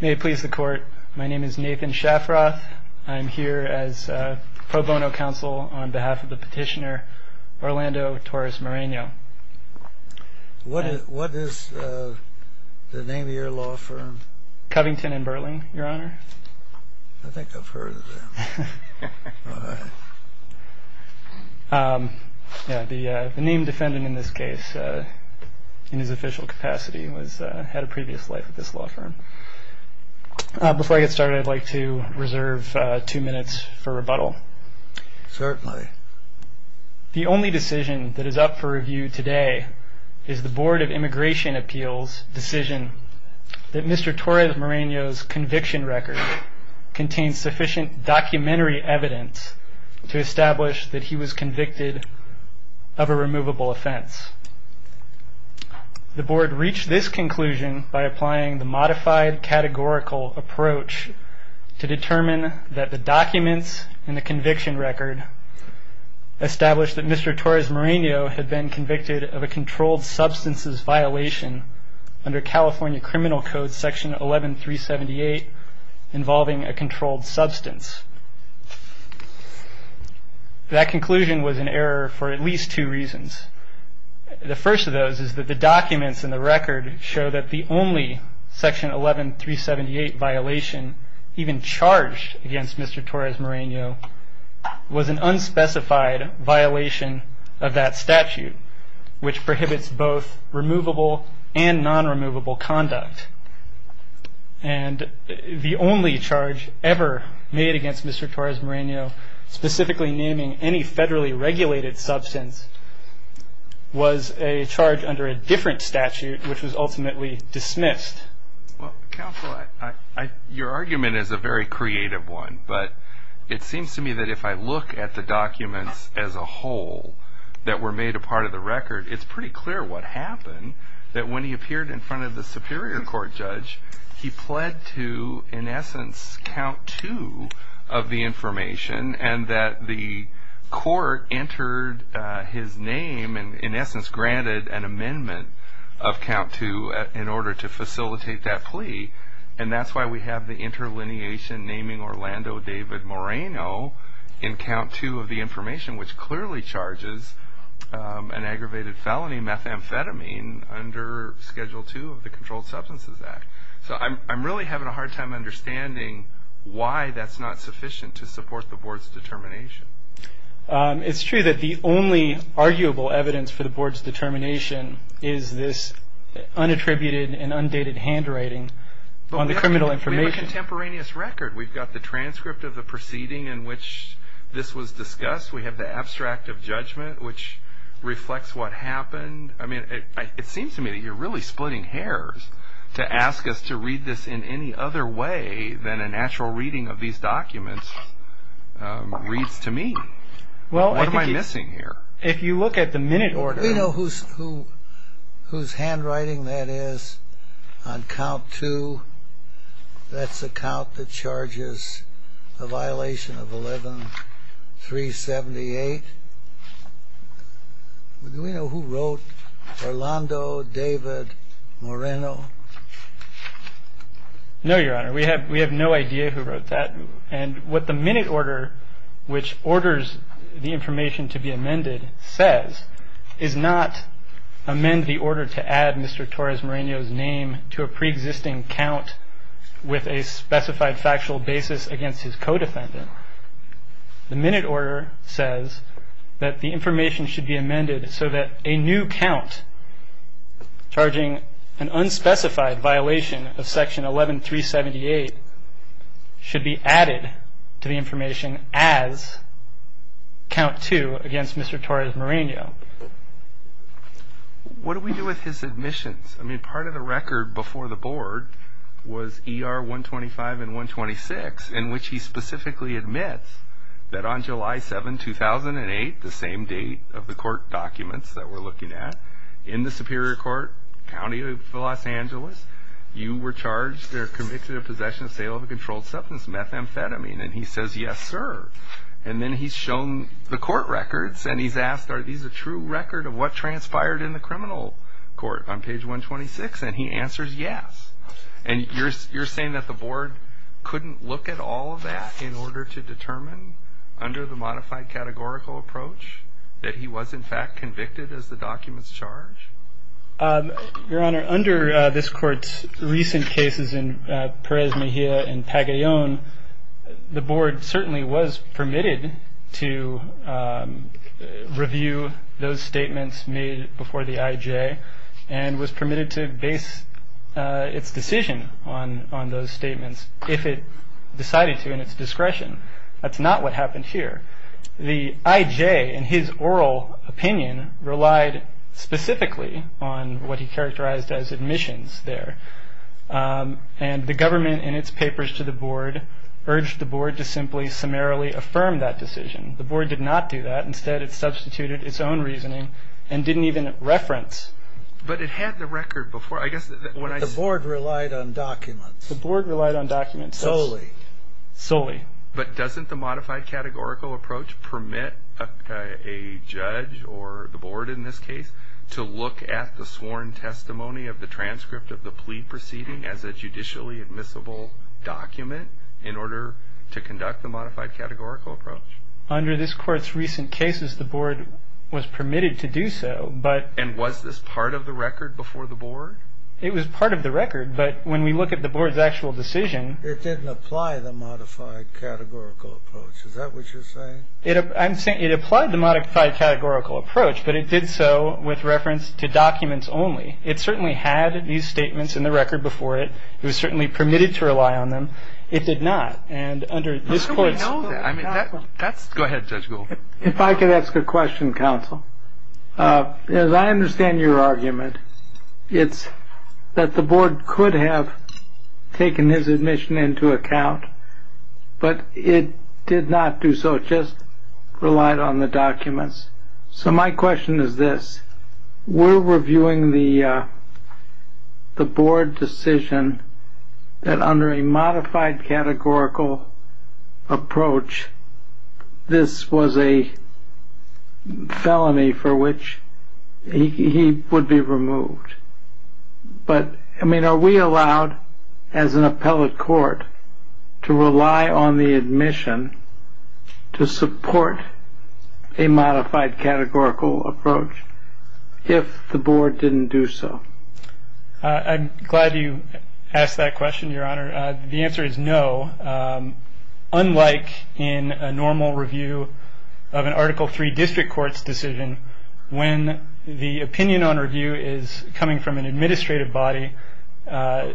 May it please the Court, my name is Nathan Shafroth. I am here as pro bono counsel on behalf of the petitioner Orlando Torres-Moreno. What is the name of your law firm? Covington & Burling, Your Honor. I think I've heard of them. The name defendant in this case, in his official capacity, had a previous life at this law firm. Before I get started, I'd like to reserve two minutes for rebuttal. Certainly. The only decision that is up for review today is the Board of Immigration Appeals' decision that Mr. Torres-Moreno's conviction record contains sufficient documentary evidence to establish that he was convicted of a removable offense. The Board reached this conclusion by applying the modified categorical approach to determine that the documents in the conviction record establish that Mr. Torres-Moreno had been convicted of a controlled substances violation under California Criminal Code Section 11378 involving a controlled substance. That conclusion was an error for at least two reasons. The first of those is that the documents in the record show that the only Section 11378 violation even charged against Mr. Torres-Moreno was an unspecified violation of that statute, which prohibits both removable and non-removable conduct. And the only charge ever made against Mr. Torres-Moreno, specifically naming any federally regulated substance, was a charge under a different statute, which was ultimately dismissed. Well, Counselor, your argument is a very creative one, but it seems to me that if I look at the documents as a whole that were made a part of the record, it's pretty clear what happened, that when he appeared in front of the Superior Court judge, he pled to, in essence, count two of the information, and that the court entered his name and, in essence, granted an amendment of count two in order to facilitate that plea. And that's why we have the interlineation naming Orlando David Moreno in count two of the information, which clearly charges an aggravated felony, methamphetamine, under Schedule II of the Controlled Substances Act. So I'm really having a hard time understanding why that's not sufficient to support the Board's determination. It's true that the only arguable evidence for the Board's determination is this unattributed and undated handwriting on the criminal information. But we have a contemporaneous record. We've got the transcript of the proceeding in which this was discussed. We have the abstract of judgment, which reflects what happened. I mean, it seems to me that you're really splitting hairs to ask us to read this in any other way than a natural reading of these documents reads to me. What am I missing here? Well, if you look at the minute order... Do we know whose handwriting that is on count two? That's the count that charges the violation of 11-378. Do we know who wrote Orlando David Moreno? No, Your Honor. We have no idea who wrote that. And what the minute order, which orders the information to be amended, says, is not amend the order to add Mr. Torres Moreno's name to a preexisting count with a specified factual basis against his co-defendant. The minute order says that the information should be amended so that a new count charging an unspecified violation of section 11-378 should be added to the information as count two against Mr. Torres Moreno. What do we do with his admissions? I mean, part of the record before the board was ER-125 and 126, in which he specifically admits that on July 7, 2008, the same date of the court documents that we're looking at, in the Superior Court, County of Los Angeles, you were charged or convicted of possession and sale of a controlled substance, methamphetamine, and he says, yes, sir. And then he's shown the court records and he's asked, are these a true record of what transpired in the criminal court on page 126? And he answers, yes. And you're saying that the board couldn't look at all of that in order to determine, under the modified categorical approach, that he was in fact convicted as the document's charge? Your Honor, under this court's recent cases in Perez Mejia and Pagayon, the board certainly was permitted to review those statements made before the IJ and was permitted to base its decision on those statements if it decided to in its discretion. That's not what happened here. The IJ, in his oral opinion, relied specifically on what he characterized as admissions there. And the government, in its papers to the board, urged the board to simply summarily affirm that decision. The board did not do that. Instead, it substituted its own reasoning and didn't even reference. But it had the record before. The board relied on documents. The board relied on documents. Solely. But doesn't the modified categorical approach permit a judge or the board in this case to look at the sworn testimony of the transcript of the plea proceeding as a judicially admissible document in order to conduct the modified categorical approach? Under this court's recent cases, the board was permitted to do so, but And was this part of the record before the board? It was part of the record, but when we look at the board's actual decision it didn't apply the modified categorical approach. Is that what you're saying? I'm saying it applied the modified categorical approach, but it did so with reference to documents only. It certainly had these statements in the record before it. It was certainly permitted to rely on them. It did not. And under this court's How do we know that? I mean, that's Go ahead, Judge Goldberg. If I could ask a question, counsel. As I understand your argument, it's that the board could have taken his admission into account, but it did not do so. It just relied on the documents. So my question is this. We're reviewing the board decision that under a modified categorical approach, this was a felony for which he would be removed. But, I mean, are we allowed, as an appellate court, to rely on the admission to support a modified categorical approach if the board didn't do so? I'm glad you asked that question, Your Honor. The answer is no. Unlike in a normal review of an Article III district court's decision, when the opinion on review is coming from an administrative body, a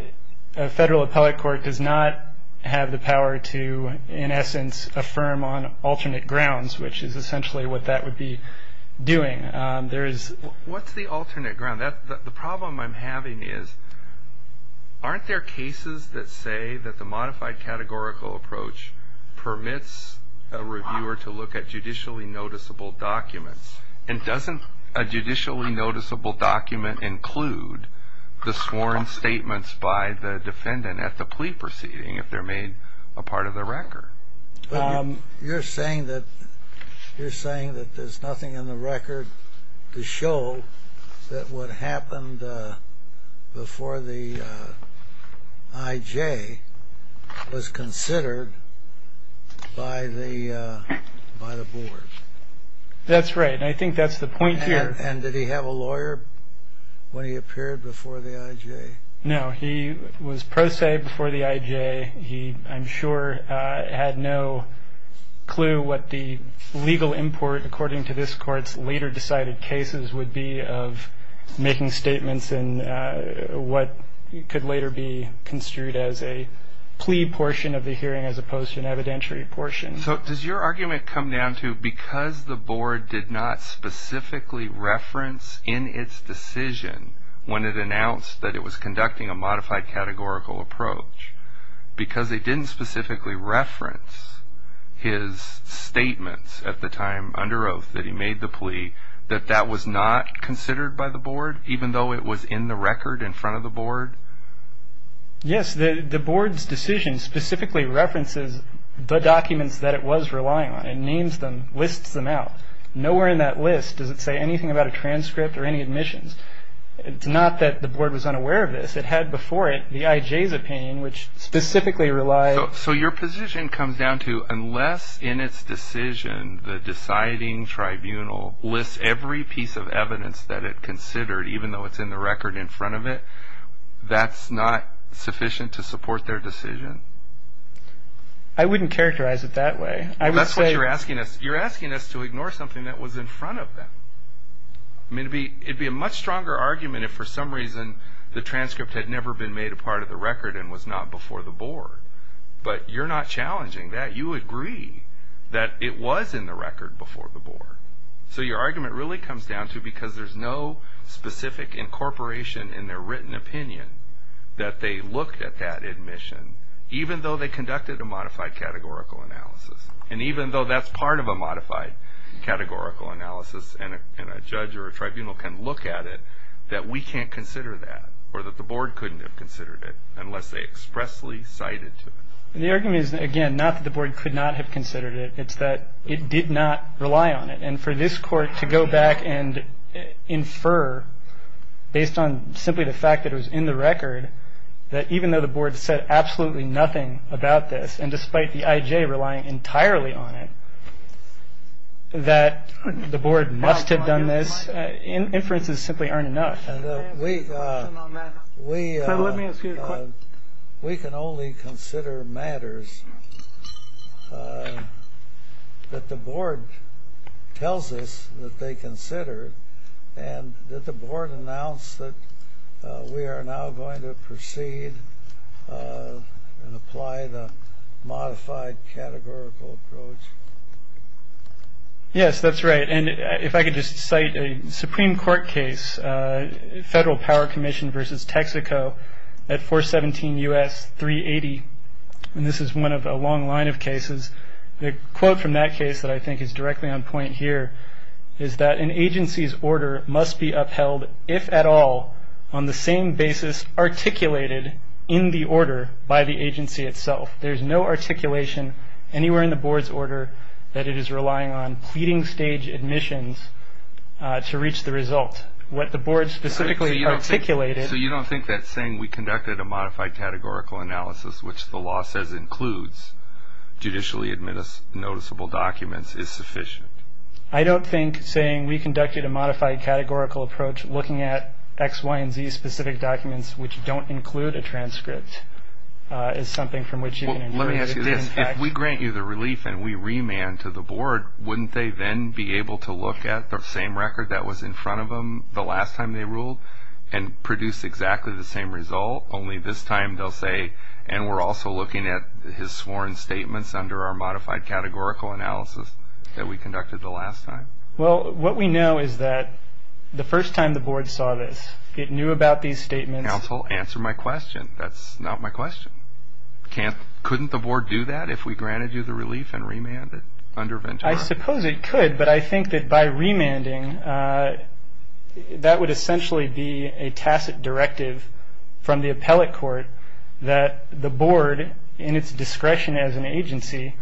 federal appellate court does not have the power to, in essence, affirm on alternate grounds, which is essentially what that would be doing. What's the alternate ground? The problem I'm having is, aren't there cases that say that the modified categorical approach permits a reviewer to look at judicially noticeable documents? And doesn't a judicially noticeable document include the sworn statements by the defendant at the plea proceeding if they're made a part of the record? You're saying that there's nothing in the record to show that what happened before the I.J. was considered by the board? That's right, and I think that's the point here. And did he have a lawyer when he appeared before the I.J.? No, he was pro se before the I.J. He, I'm sure, had no clue what the legal import, according to this court's later decided cases, would be of making statements in what could later be construed as a plea portion of the hearing as opposed to an evidentiary portion. So does your argument come down to, because the board did not specifically reference in its decision when it announced that it was conducting a modified categorical approach, because they didn't specifically reference his statements at the time under oath that he made the plea, that that was not considered by the board, even though it was in the record in front of the board? Yes, the board's decision specifically references the documents that it was relying on. It names them, lists them out. Nowhere in that list does it say anything about a transcript or any admissions. It's not that the board was unaware of this. It had before it the I.J.'s opinion, which specifically relied. So your position comes down to, unless in its decision the deciding tribunal lists every piece of evidence that it considered, even though it's in the record in front of it, that's not sufficient to support their decision? I wouldn't characterize it that way. That's what you're asking us. You're asking us to ignore something that was in front of them. It would be a much stronger argument if, for some reason, the transcript had never been made a part of the record and was not before the board. But you're not challenging that. You agree that it was in the record before the board. So your argument really comes down to, because there's no specific incorporation in their written opinion, that they look at that admission, even though they conducted a modified categorical analysis. And even though that's part of a modified categorical analysis and a judge or a tribunal can look at it, that we can't consider that or that the board couldn't have considered it unless they expressly cited it. The argument is, again, not that the board could not have considered it. It's that it did not rely on it. And for this court to go back and infer, based on simply the fact that it was in the record, that even though the board said absolutely nothing about this and despite the I.J. relying entirely on it, that the board must have done this, inferences simply aren't enough. We can only consider matters that the board tells us that they consider and that the board announced that we are now going to proceed and apply the modified categorical approach. Yes, that's right. And if I could just cite a Supreme Court case, Federal Power Commission v. Texaco at 417 U.S. 380. And this is one of a long line of cases. The quote from that case that I think is directly on point here is that an agency's order must be upheld, if at all, on the same basis articulated in the order by the agency itself. There's no articulation anywhere in the board's order that it is relying on pleading stage admissions to reach the result. What the board specifically articulated. So you don't think that saying we conducted a modified categorical analysis, which the law says includes judicially noticeable documents, is sufficient? I don't think saying we conducted a modified categorical approach looking at X, Y, and Z specific documents which don't include a transcript is something from which you can infer. Let me ask you this. If we grant you the relief and we remand to the board, wouldn't they then be able to look at the same record that was in front of them the last time they ruled and produce exactly the same result, only this time they'll say, and we're also looking at his sworn statements under our modified categorical analysis that we conducted the last time? Well, what we know is that the first time the board saw this, it knew about these statements. Counsel, answer my question. That's not my question. Couldn't the board do that if we granted you the relief and remanded under Ventura? I suppose it could, but I think that by remanding, that would essentially be a tacit directive from the appellate court that the board, in its discretion as an agency,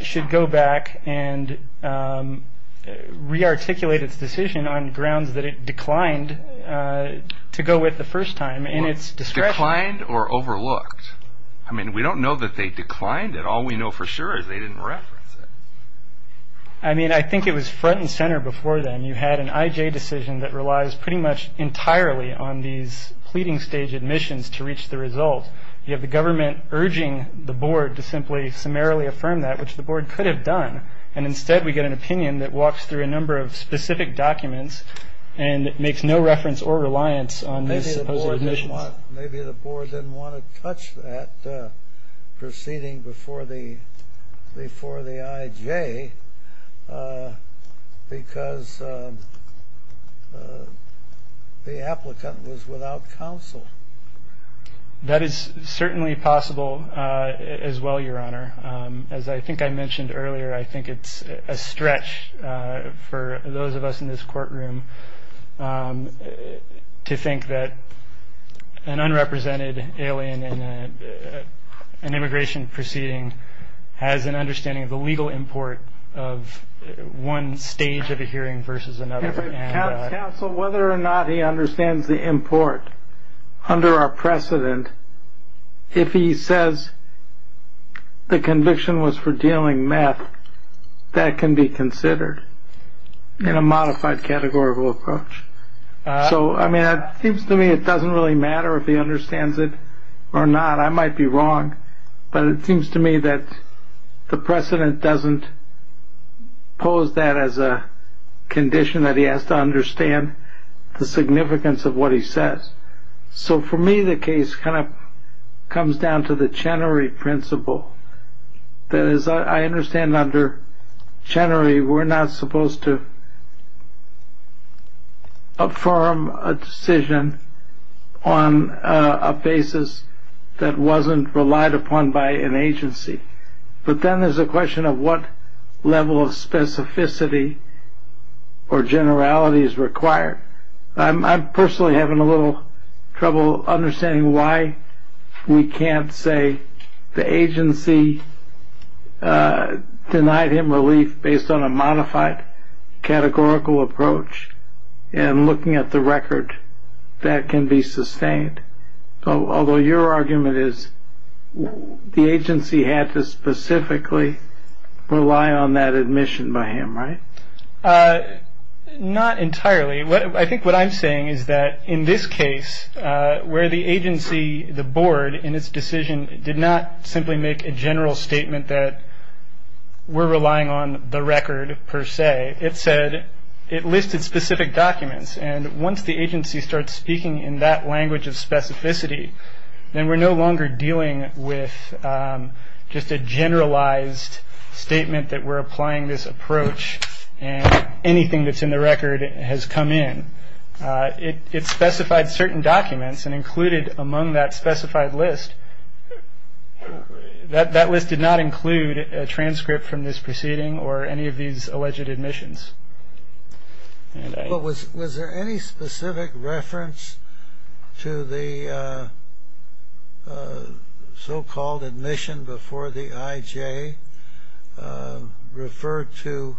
should go back and rearticulate its decision on grounds that it declined to go with the first time in its discretion. Declined or overlooked? I mean, we don't know that they declined it. All we know for sure is they didn't reference it. I mean, I think it was front and center before then. You had an IJ decision that relies pretty much entirely on these pleading stage admissions to reach the result. You have the government urging the board to simply summarily affirm that, which the board could have done, and instead we get an opinion that walks through a number of specific documents and makes no reference or reliance on these supposed admissions. Maybe the board didn't want to touch that proceeding before the IJ because the applicant was without counsel. That is certainly possible as well, Your Honor. As I think I mentioned earlier, I think it's a stretch for those of us in this courtroom to think that an unrepresented alien in an immigration proceeding has an understanding of the legal import of one stage of a hearing versus another. Counsel, whether or not he understands the import under our precedent, if he says the conviction was for dealing meth, that can be considered in a modified categorical approach. So, I mean, it seems to me it doesn't really matter if he understands it or not. I might be wrong, but it seems to me that the precedent doesn't pose that as a condition that he has to understand the significance of what he says. So, for me, the case kind of comes down to the Chenery principle. That is, I understand under Chenery, we're not supposed to affirm a decision on a basis that wasn't relied upon by an agency. But then there's a question of what level of specificity or generality is required. I'm personally having a little trouble understanding why we can't say the agency denied him relief based on a modified categorical approach and looking at the record that can be sustained. Although your argument is the agency had to specifically rely on that admission by him, right? Not entirely. I think what I'm saying is that in this case, where the agency, the board, in its decision did not simply make a general statement that we're relying on the record per se. It said it listed specific documents. And once the agency starts speaking in that language of specificity, then we're no longer dealing with just a generalized statement that we're applying this approach and anything that's in the record has come in. It specified certain documents and included among that specified list. That list did not include a transcript from this proceeding or any of these alleged admissions. Was there any specific reference to the so-called admission before the IJ referred to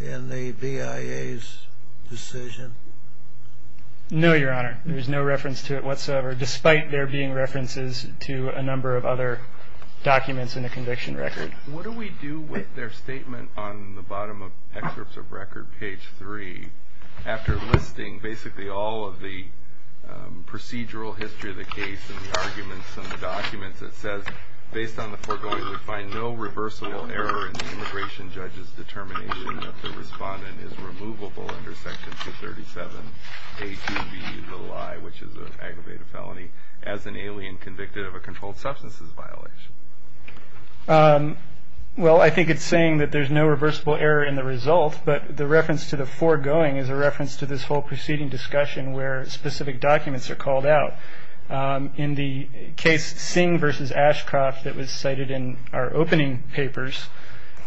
in the BIA's decision? No, Your Honor. There's no reference to it whatsoever, despite there being references to a number of other documents in the conviction record. What do we do with their statement on the bottom of excerpts of record, page three, after listing basically all of the procedural history of the case and the arguments and the documents that says, based on the foregoing, we find no reversible error in the immigration judge's determination that the respondent is removable under Section 237A2B, the lie, which is an aggravated felony, as an alien convicted of a controlled substances violation? Well, I think it's saying that there's no reversible error in the result, but the reference to the foregoing is a reference to this whole proceeding discussion where specific documents are called out. In the case Singh v. Ashcroft that was cited in our opening papers,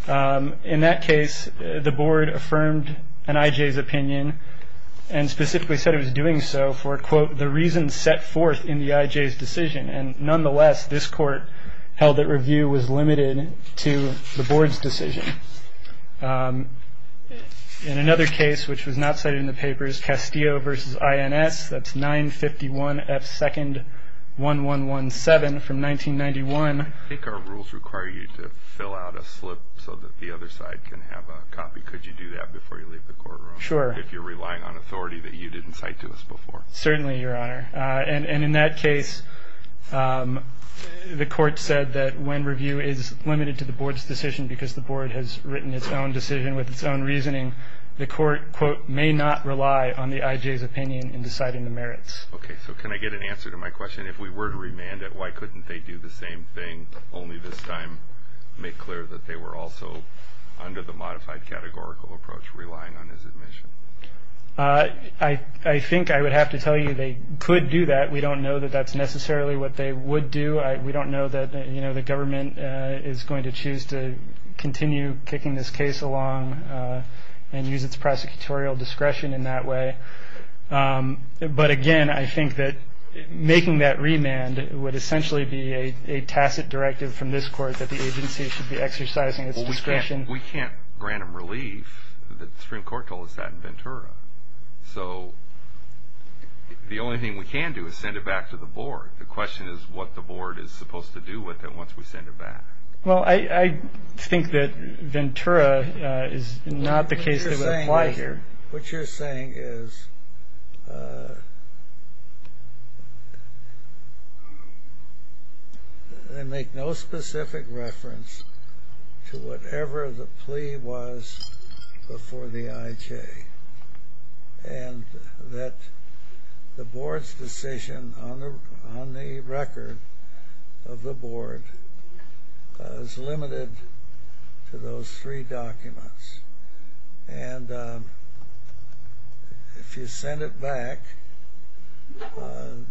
in that case the board affirmed an IJ's opinion and specifically said it was doing so for, quote, the reasons set forth in the IJ's decision. And nonetheless, this court held that review was limited to the board's decision. In another case which was not cited in the papers, Castillo v. INS, that's 951F2-1117 from 1991. I think our rules require you to fill out a slip so that the other side can have a copy. Could you do that before you leave the courtroom? Sure. If you're relying on authority that you didn't cite to us before. Certainly, Your Honor. And in that case, the court said that when review is limited to the board's decision because the board has written its own decision with its own reasoning, the court, quote, may not rely on the IJ's opinion in deciding the merits. Okay. So can I get an answer to my question? If we were to remand it, why couldn't they do the same thing, only this time make clear that they were also under the modified categorical approach relying on his admission? I think I would have to tell you they could do that. We don't know that that's necessarily what they would do. We don't know that the government is going to choose to continue kicking this case along and use its prosecutorial discretion in that way. But, again, I think that making that remand would essentially be a tacit directive from this court that the agency should be exercising its discretion. We can't grant them relief. The Supreme Court told us that in Ventura. So the only thing we can do is send it back to the board. The question is what the board is supposed to do with it once we send it back. Well, I think that Ventura is not the case that would apply here. What you're saying is they make no specific reference to whatever the plea was before the IJ and that the board's decision on the record of the board is limited to those three documents. And if you send it back,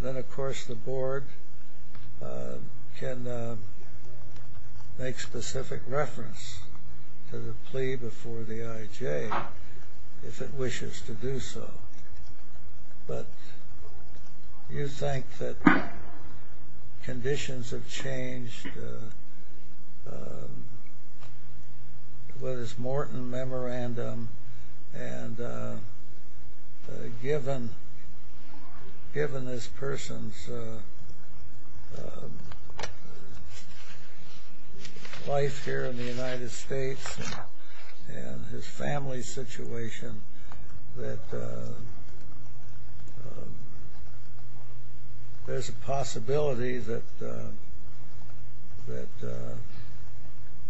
then, of course, the board can make specific reference to the plea before the IJ if it wishes to do so. But you think that conditions have changed with this Morton memorandum and given this person's life here in the United States and his family's situation that there's a possibility that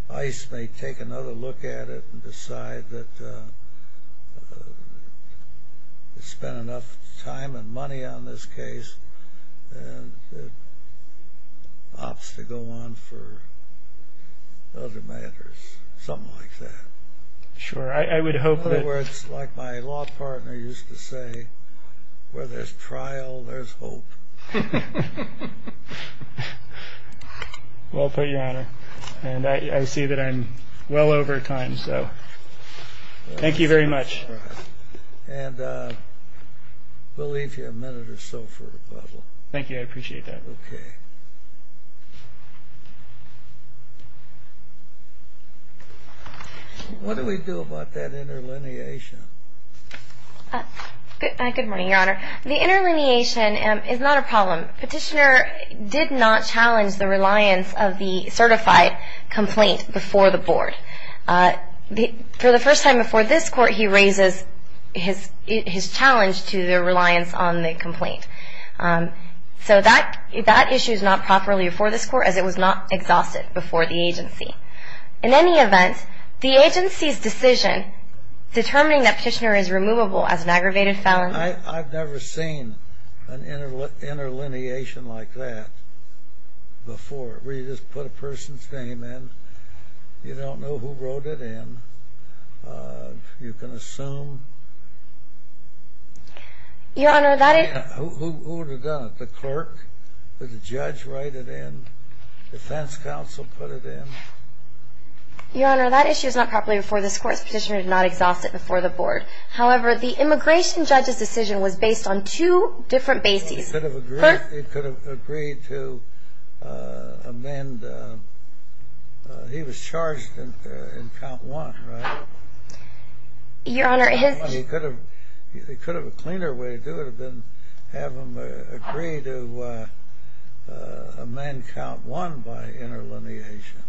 ICE may take another look at it and decide that they've spent enough time and money on this case and it opts to go on for other matters, something like that? Sure. I would hope that... In other words, like my law partner used to say, where there's trial, there's hope. Well put, Your Honor. And I see that I'm well over time, so thank you very much. And we'll leave you a minute or so for rebuttal. Thank you. I appreciate that. Okay. What do we do about that interlineation? Good morning, Your Honor. The interlineation is not a problem. Petitioner did not challenge the reliance of the certified complaint before the board. For the first time before this court, he raises his challenge to the reliance on the complaint. So that issue is not properly before this court, as it was not exhausted before the agency. In any event, the agency's decision determining that Petitioner is removable as an aggravated felon... I've never seen an interlineation like that before, where you just put a person's name in. You don't know who wrote it in. You can assume... Your Honor, that is... Who would have done it? The clerk? Did the judge write it in? Defense counsel put it in? Your Honor, that issue is not properly before this court. Petitioner did not exhaust it before the board. However, the immigration judge's decision was based on two different bases. He could have agreed to amend... He was charged in Count 1, right? Your Honor, his... He could have... He could have a cleaner way to do it than have him agree to amend Count 1 by interlineation.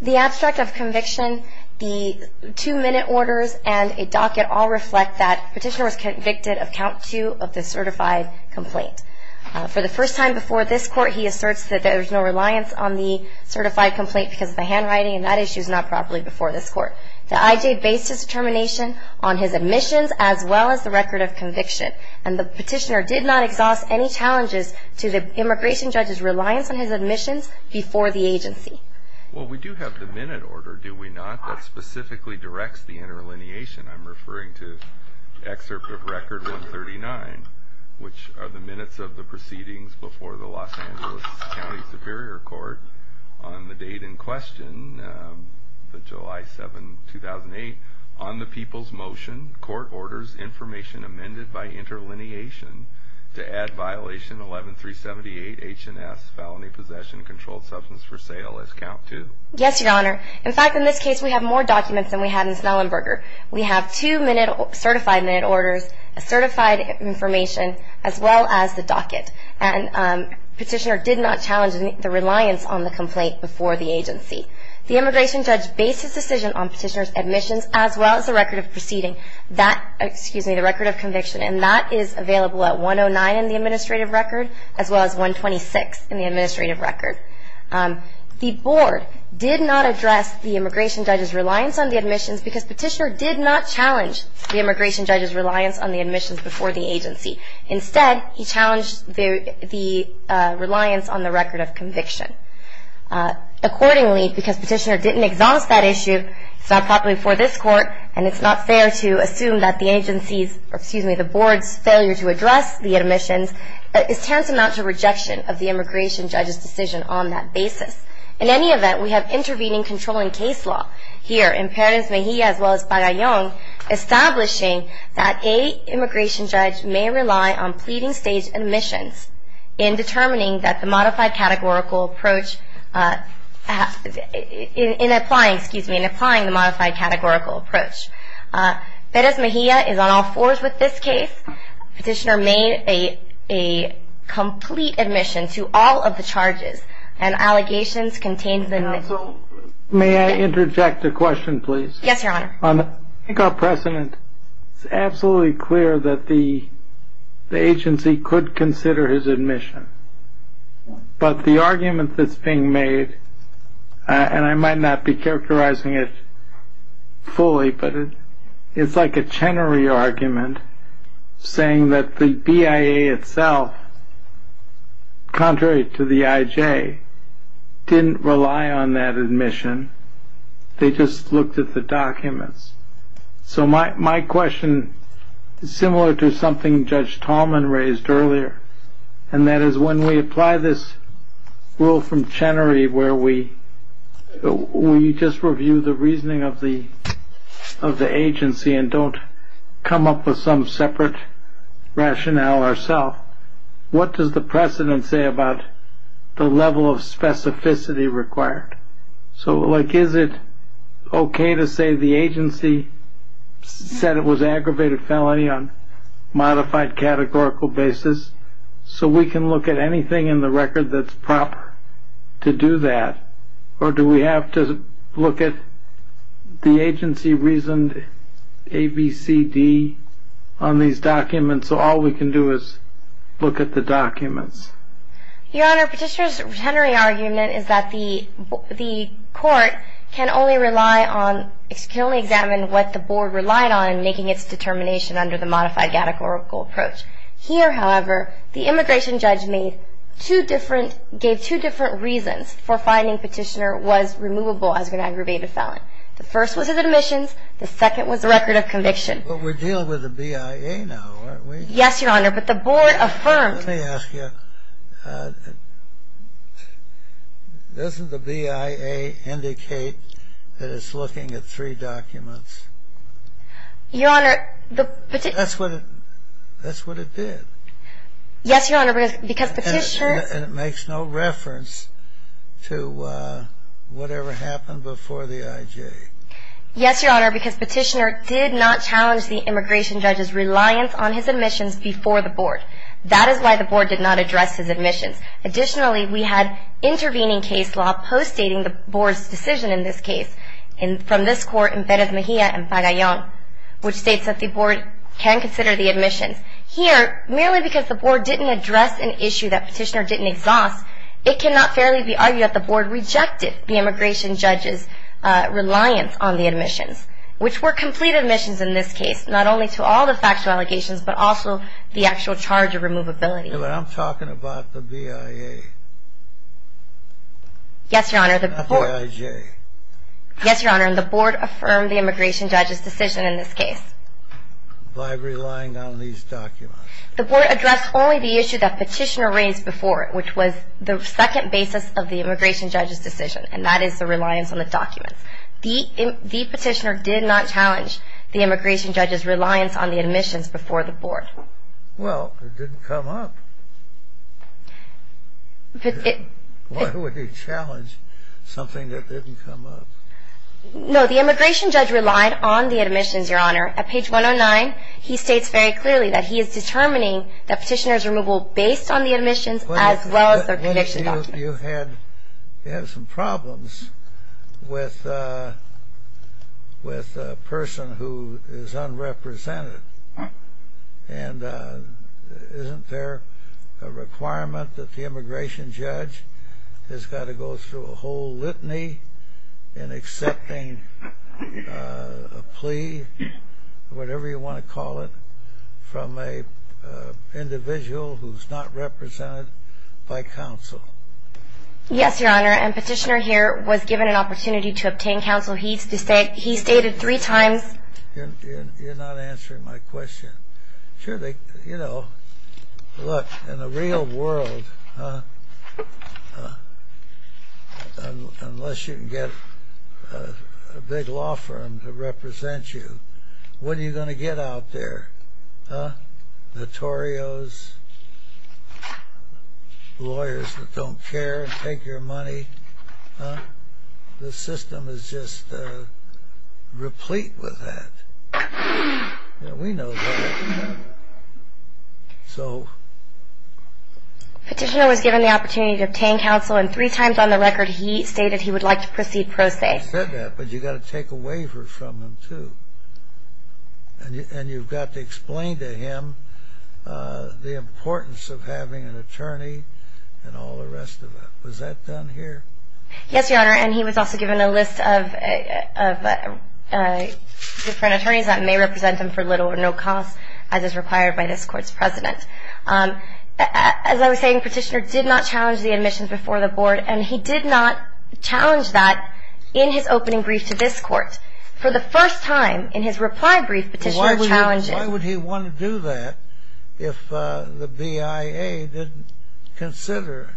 The abstract of conviction, the two-minute orders, and a docket all reflect that Petitioner was convicted of Count 2 of the certified complaint. For the first time before this court, he asserts that there is no reliance on the certified complaint because of the handwriting, and that issue is not properly before this court. The IJ based his determination on his admissions as well as the record of conviction, and the Petitioner did not exhaust any challenges to the immigration judge's reliance on his admissions before the agency. Well, we do have the minute order, do we not, that specifically directs the interlineation? I'm referring to Excerpt of Record 139, which are the minutes of the proceedings before the Los Angeles County Superior Court on the date in question, July 7, 2008. On the people's motion, court orders information amended by interlineation to add Violation 11-378 H&S Felony Possession Controlled Substance for Sale as Count 2. Yes, Your Honor. In fact, in this case, we have more documents than we had in Snellenberger. We have two certified minute orders, certified information, as well as the docket, and Petitioner did not challenge the reliance on the complaint before the agency. The immigration judge based his decision on Petitioner's admissions as well as the record of proceeding, excuse me, the record of conviction, and that is available at 109 in the administrative record as well as 126 in the administrative record. The board did not address the immigration judge's reliance on the admissions because Petitioner did not challenge the immigration judge's reliance on the admissions before the agency. Instead, he challenged the reliance on the record of conviction. Accordingly, because Petitioner didn't exhaust that issue, it's not properly before this court, and it's not fair to assume that the agency's, or excuse me, the board's, failure to address the admissions is tantamount to rejection of the immigration judge's decision on that basis. In any event, we have intervening controlling case law here in Perez-Mejia as well as Pagayon, establishing that a immigration judge may rely on pleading stage admissions in determining that the modified categorical approach, in applying, excuse me, in applying the modified categorical approach. Perez-Mejia is on all fours with this case. Petitioner made a complete admission to all of the charges, and allegations contained in the Counsel, may I interject a question, please? Yes, Your Honor. I think our precedent is absolutely clear that the agency could consider his admission, but the argument that's being made, and I might not be characterizing it fully, but it's like a Chenery argument saying that the BIA itself, contrary to the IJ, didn't rely on that admission, they just looked at the documents. So my question is similar to something Judge Tallman raised earlier, and that is when we apply this rule from Chenery where we just review the reasoning of the agency and don't come up with some separate rationale ourself, what does the precedent say about the level of specificity required? So like is it okay to say the agency said it was aggravated felony on modified categorical basis, so we can look at anything in the record that's proper to do that, or do we have to look at the agency reasoned A, B, C, D on these documents, so all we can do is look at the documents? Your Honor, Petitioner's Chenery argument is that the court can only rely on, can only examine what the board relied on in making its determination under the modified categorical approach. Here, however, the immigration judge made two different, gave two different reasons for finding Petitioner was removable as an aggravated felon. The first was his admissions, the second was the record of conviction. But we're dealing with the BIA now, aren't we? Yes, Your Honor, but the board affirmed. Let me ask you, doesn't the BIA indicate that it's looking at three documents? Your Honor, the Petitioner. That's what it did. Yes, Your Honor, because Petitioner. And it makes no reference to whatever happened before the IJ. Yes, Your Honor, because Petitioner did not challenge the immigration judge's reliance on his admissions before the board. That is why the board did not address his admissions. Additionally, we had intervening case law postdating the board's decision in this case, and from this court in Perez Mejia and Pagayon, which states that the board can consider the admissions. Here, merely because the board didn't address an issue that Petitioner didn't exhaust, it cannot fairly be argued that the board rejected the immigration judge's reliance on the admissions, which were complete admissions in this case, not only to all the factual allegations, but also the actual charge of removability. I'm talking about the BIA. Yes, Your Honor, the board. Not the IJ. Yes, Your Honor, and the board affirmed the immigration judge's decision in this case. By relying on these documents. The board addressed only the issue that Petitioner raised before, which was the second basis of the immigration judge's decision, and that is the reliance on the documents. The Petitioner did not challenge the immigration judge's reliance on the admissions before the board. Well, it didn't come up. Why would he challenge something that didn't come up? No, the immigration judge relied on the admissions, Your Honor. At page 109, he states very clearly that he is determining that Petitioner's removal based on the admissions as well as the conviction documents. You have some problems with a person who is unrepresented, and isn't there a requirement that the immigration judge has got to go through a whole litany in accepting a plea, whatever you want to call it, from an individual who is not represented by counsel? Yes, Your Honor, and Petitioner here was given an opportunity to obtain counsel. He stated three times... You're not answering my question. Look, in the real world, unless you can get a big law firm to represent you, what are you going to get out there? Notorios, lawyers that don't care and take your money? The system is just replete with that. We know that. So... Petitioner was given the opportunity to obtain counsel, and three times on the record he stated he would like to proceed pro se. He said that, but you've got to take a waiver from him, too. And you've got to explain to him the importance of having an attorney and all the rest of it. Was that done here? Yes, Your Honor, and he was also given a list of different attorneys that may represent him for little or no cost, as is required by this Court's precedent. As I was saying, Petitioner did not challenge the admissions before the Board, and he did not challenge that in his opening brief to this Court. For the first time in his reply brief, Petitioner challenged it. Why would he want to do that if the BIA didn't consider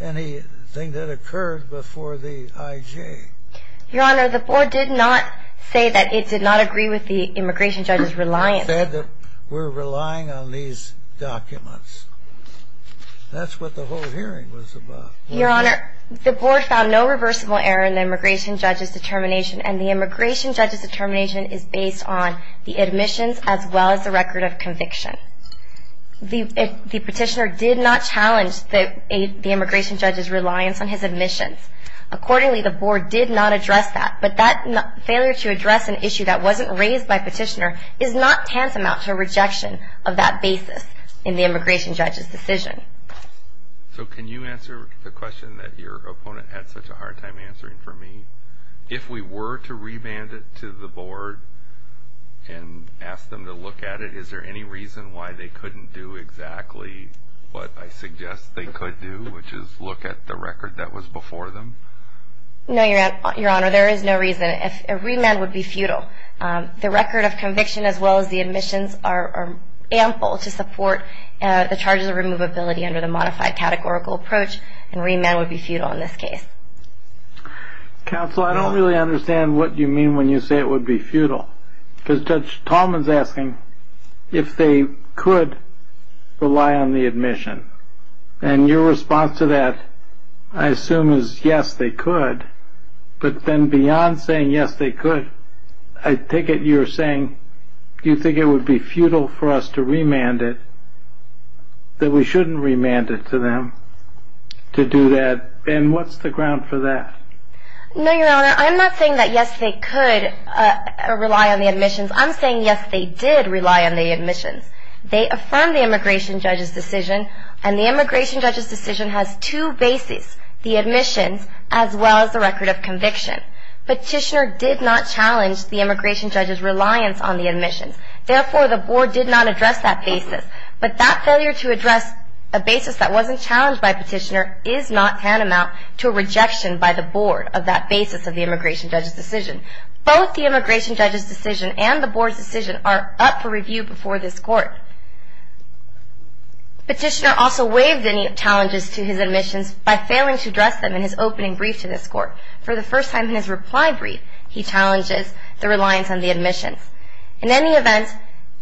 anything that occurred before the IJ? Your Honor, the Board did not say that it did not agree with the immigration judge's reliance. It said that we're relying on these documents. That's what the whole hearing was about. Your Honor, the Board found no reversible error in the immigration judge's determination, and the immigration judge's determination is based on the admissions as well as the record of conviction. The Petitioner did not challenge the immigration judge's reliance on his admissions. Accordingly, the Board did not address that, but that failure to address an issue that wasn't raised by Petitioner is not tantamount to a rejection of that basis in the immigration judge's decision. So can you answer the question that your opponent had such a hard time answering for me? If we were to remand it to the Board and ask them to look at it, is there any reason why they couldn't do exactly what I suggest they could do, which is look at the record that was before them? No, Your Honor, there is no reason. A remand would be futile. The record of conviction as well as the admissions are ample to support the charges of removability under the modified categorical approach, and remand would be futile in this case. Counsel, I don't really understand what you mean when you say it would be futile, because Judge Tallman is asking if they could rely on the admission, and your response to that, I assume, is yes, they could, but then beyond saying yes, they could, I take it you're saying you think it would be futile for us to remand it, that we shouldn't remand it to them to do that, and what's the ground for that? No, Your Honor, I'm not saying that yes, they could rely on the admissions. I'm saying yes, they did rely on the admissions. They affirmed the immigration judge's decision, and the immigration judge's decision has two bases, the admissions as well as the record of conviction. Petitioner did not challenge the immigration judge's reliance on the admissions. Therefore, the Board did not address that basis, but that failure to address a basis that wasn't challenged by Petitioner is not tantamount to a rejection by the Board of that basis of the immigration judge's decision. Both the immigration judge's decision and the Board's decision are up for review before this Court. Petitioner also waived any challenges to his admissions by failing to address them in his opening brief to this Court. For the first time in his reply brief, he challenges the reliance on the admissions. In any event,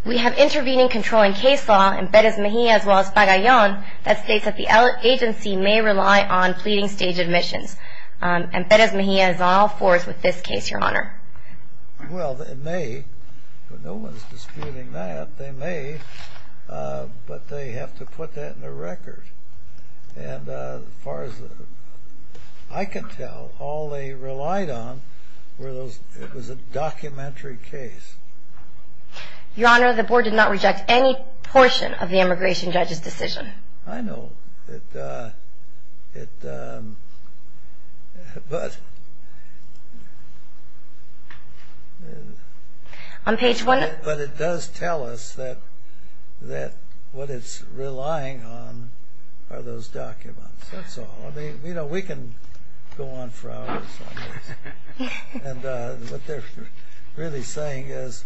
we have intervening controlling case law in Perez Mejia as well as Pagayan that states that the agency may rely on pleading stage admissions, and Perez Mejia is all for it with this case, Your Honor. Well, they may, but no one's disputing that. They may, but they have to put that in the record. And as far as I can tell, all they relied on was a documentary case. Your Honor, the Board did not reject any portion of the immigration judge's decision. I know, but it does tell us that what it's relying on are those documents. That's all. I mean, you know, we can go on for hours on this. And what they're really saying is,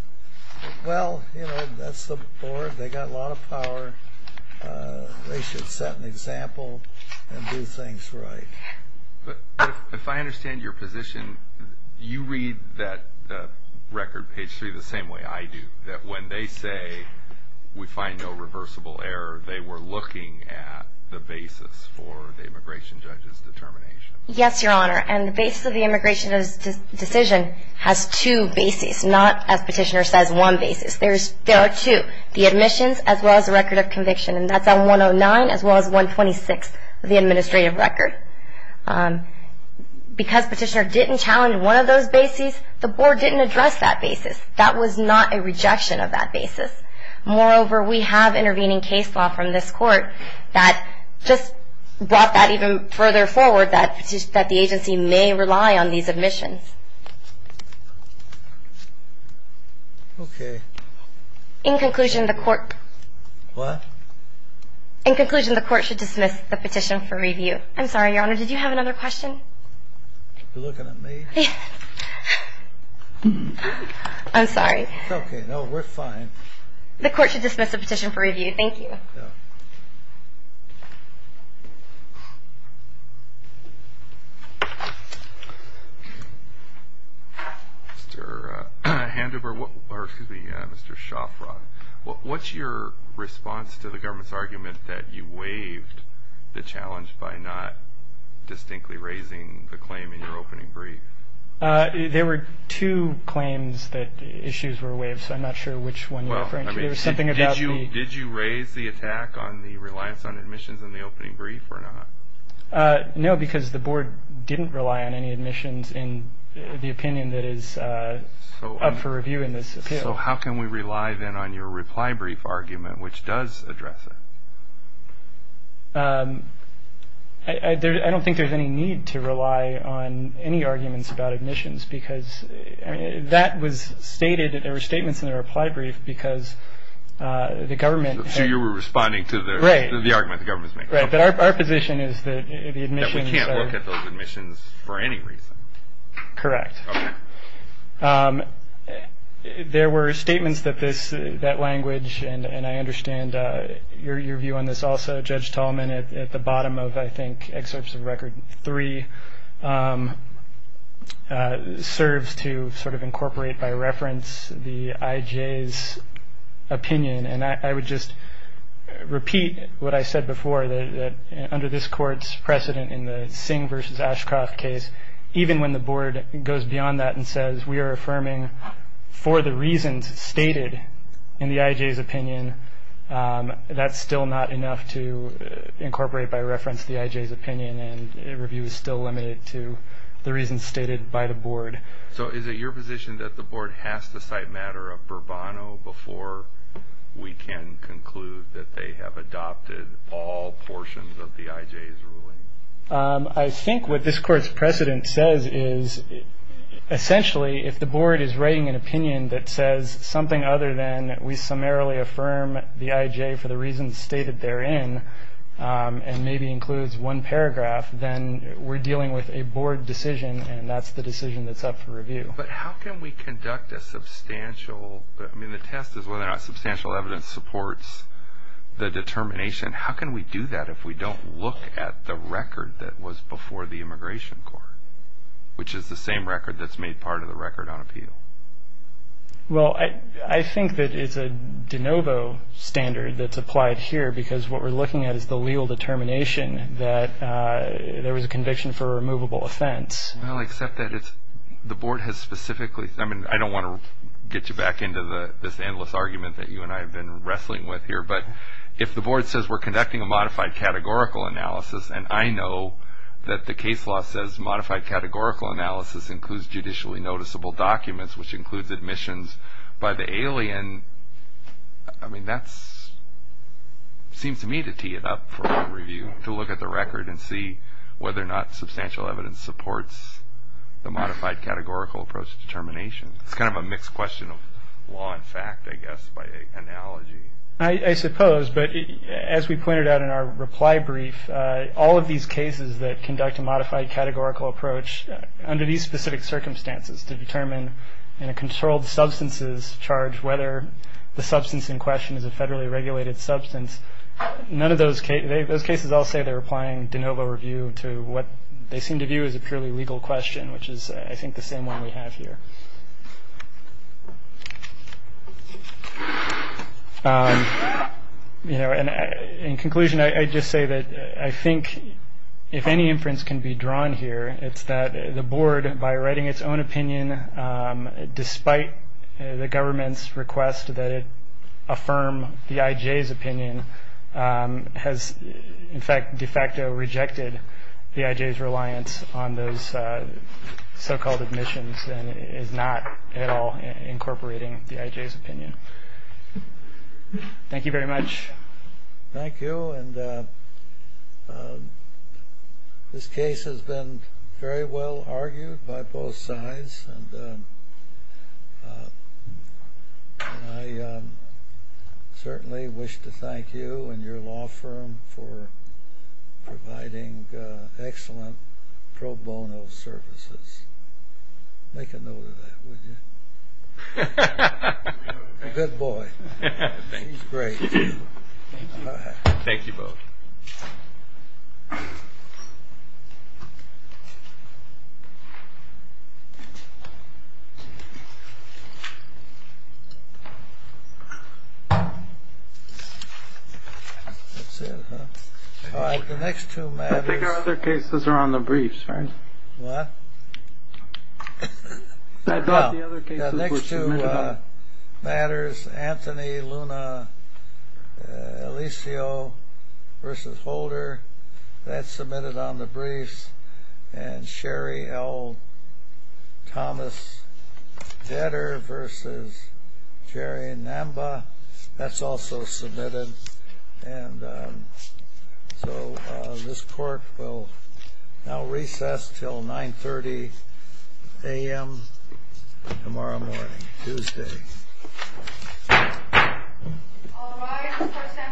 well, you know, that's the Board. They've got a lot of power. They should set an example and do things right. If I understand your position, you read that record, page 3, the same way I do, that when they say we find no reversible error, they were looking at the basis for the immigration judge's determination. Yes, Your Honor, and the basis of the immigration judge's decision has two bases, not, as Petitioner says, one basis. There are two, the admissions as well as the record of conviction, and that's on 109 as well as 126, the administrative record. Because Petitioner didn't challenge one of those bases, the Board didn't address that basis. That was not a rejection of that basis. Moreover, we have intervening case law from this Court that just brought that even further forward, that the agency may rely on these admissions. Okay. In conclusion, the Court should dismiss the petition for review. I'm sorry, Your Honor, did you have another question? Are you looking at me? I'm sorry. It's okay. No, we're fine. The Court should dismiss the petition for review. Thank you. Mr. Handover, or excuse me, Mr. Shofrock, what's your response to the government's argument that you waived the challenge by not distinctly raising the claim in your opening brief? There were two claims that issues were waived, so I'm not sure which one you're referring to. Did you raise the attack on the reliance on admissions in the opening brief or not? No, because the Board didn't rely on any admissions in the opinion that is up for review in this appeal. So how can we rely then on your reply brief argument, which does address it? I don't think there's any need to rely on any arguments about admissions, because that was stated that there were statements in the reply brief because the government had- So you were responding to the argument the government's making. Right, but our position is that the admissions are- That we can't look at those admissions for any reason. Correct. Okay. There were statements that that language, and I understand your view on this also, Judge Tallman, at the bottom of, I think, excerpts of Record 3, serves to sort of incorporate by reference the IJ's opinion. And I would just repeat what I said before, that under this Court's precedent in the Singh v. Ashcroft case, even when the Board goes beyond that and says we are affirming for the reasons stated in the IJ's opinion, that's still not enough to incorporate by reference the IJ's opinion, and review is still limited to the reasons stated by the Board. So is it your position that the Board has to cite matter of Bourbono before we can conclude that they have adopted all portions of the IJ's ruling? I think what this Court's precedent says is, essentially, if the Board is writing an opinion that says something other than we summarily affirm the IJ for the reasons stated therein, and maybe includes one paragraph, then we're dealing with a Board decision, and that's the decision that's up for review. But how can we conduct a substantial- I mean, the test is whether or not substantial evidence supports the determination. How can we do that if we don't look at the record that was before the Immigration Court, which is the same record that's made part of the Record on Appeal? Well, I think that it's a de novo standard that's applied here, because what we're looking at is the legal determination that there was a conviction for a removable offense. Well, except that the Board has specifically- I mean, I don't want to get you back into this endless argument that you and I have been wrestling with here, but if the Board says we're conducting a modified categorical analysis, and I know that the case law says modified categorical analysis includes judicially noticeable documents, which includes admissions by the alien, I mean, that seems to me to tee it up for review, to look at the record and see whether or not substantial evidence supports the modified categorical approach to determination. It's kind of a mixed question of law and fact, I guess, by analogy. I suppose, but as we pointed out in our reply brief, all of these cases that conduct a modified categorical approach under these specific circumstances to determine in a controlled substances charge whether the substance in question is a federally regulated substance, those cases all say they're applying de novo review to what they seem to view as a purely legal question, which is, I think, the same one we have here. In conclusion, I'd just say that I think if any inference can be drawn here, it's that the Board, by writing its own opinion despite the government's request that it affirm the IJ's opinion, has, in fact, de facto rejected the IJ's reliance on those so-called admissions and is not at all incorporating the IJ's opinion. Thank you very much. Thank you, and this case has been very well argued by both sides, and I certainly wish to thank you and your law firm for providing excellent pro bono services. Make a note of that, would you? Good boy. He's great. Thank you both. Thank you. That's it, huh? All right, the next two matters. I think our other cases are on the briefs, right? What? I thought the other cases were submitted on. Anthony Luna-Alicio v. Holder, that's submitted on the briefs. And Sherry L. Thomas-Dedder v. Jerry Namba, that's also submitted. And so this court will now recess until 9.30 a.m. tomorrow morning, Tuesday.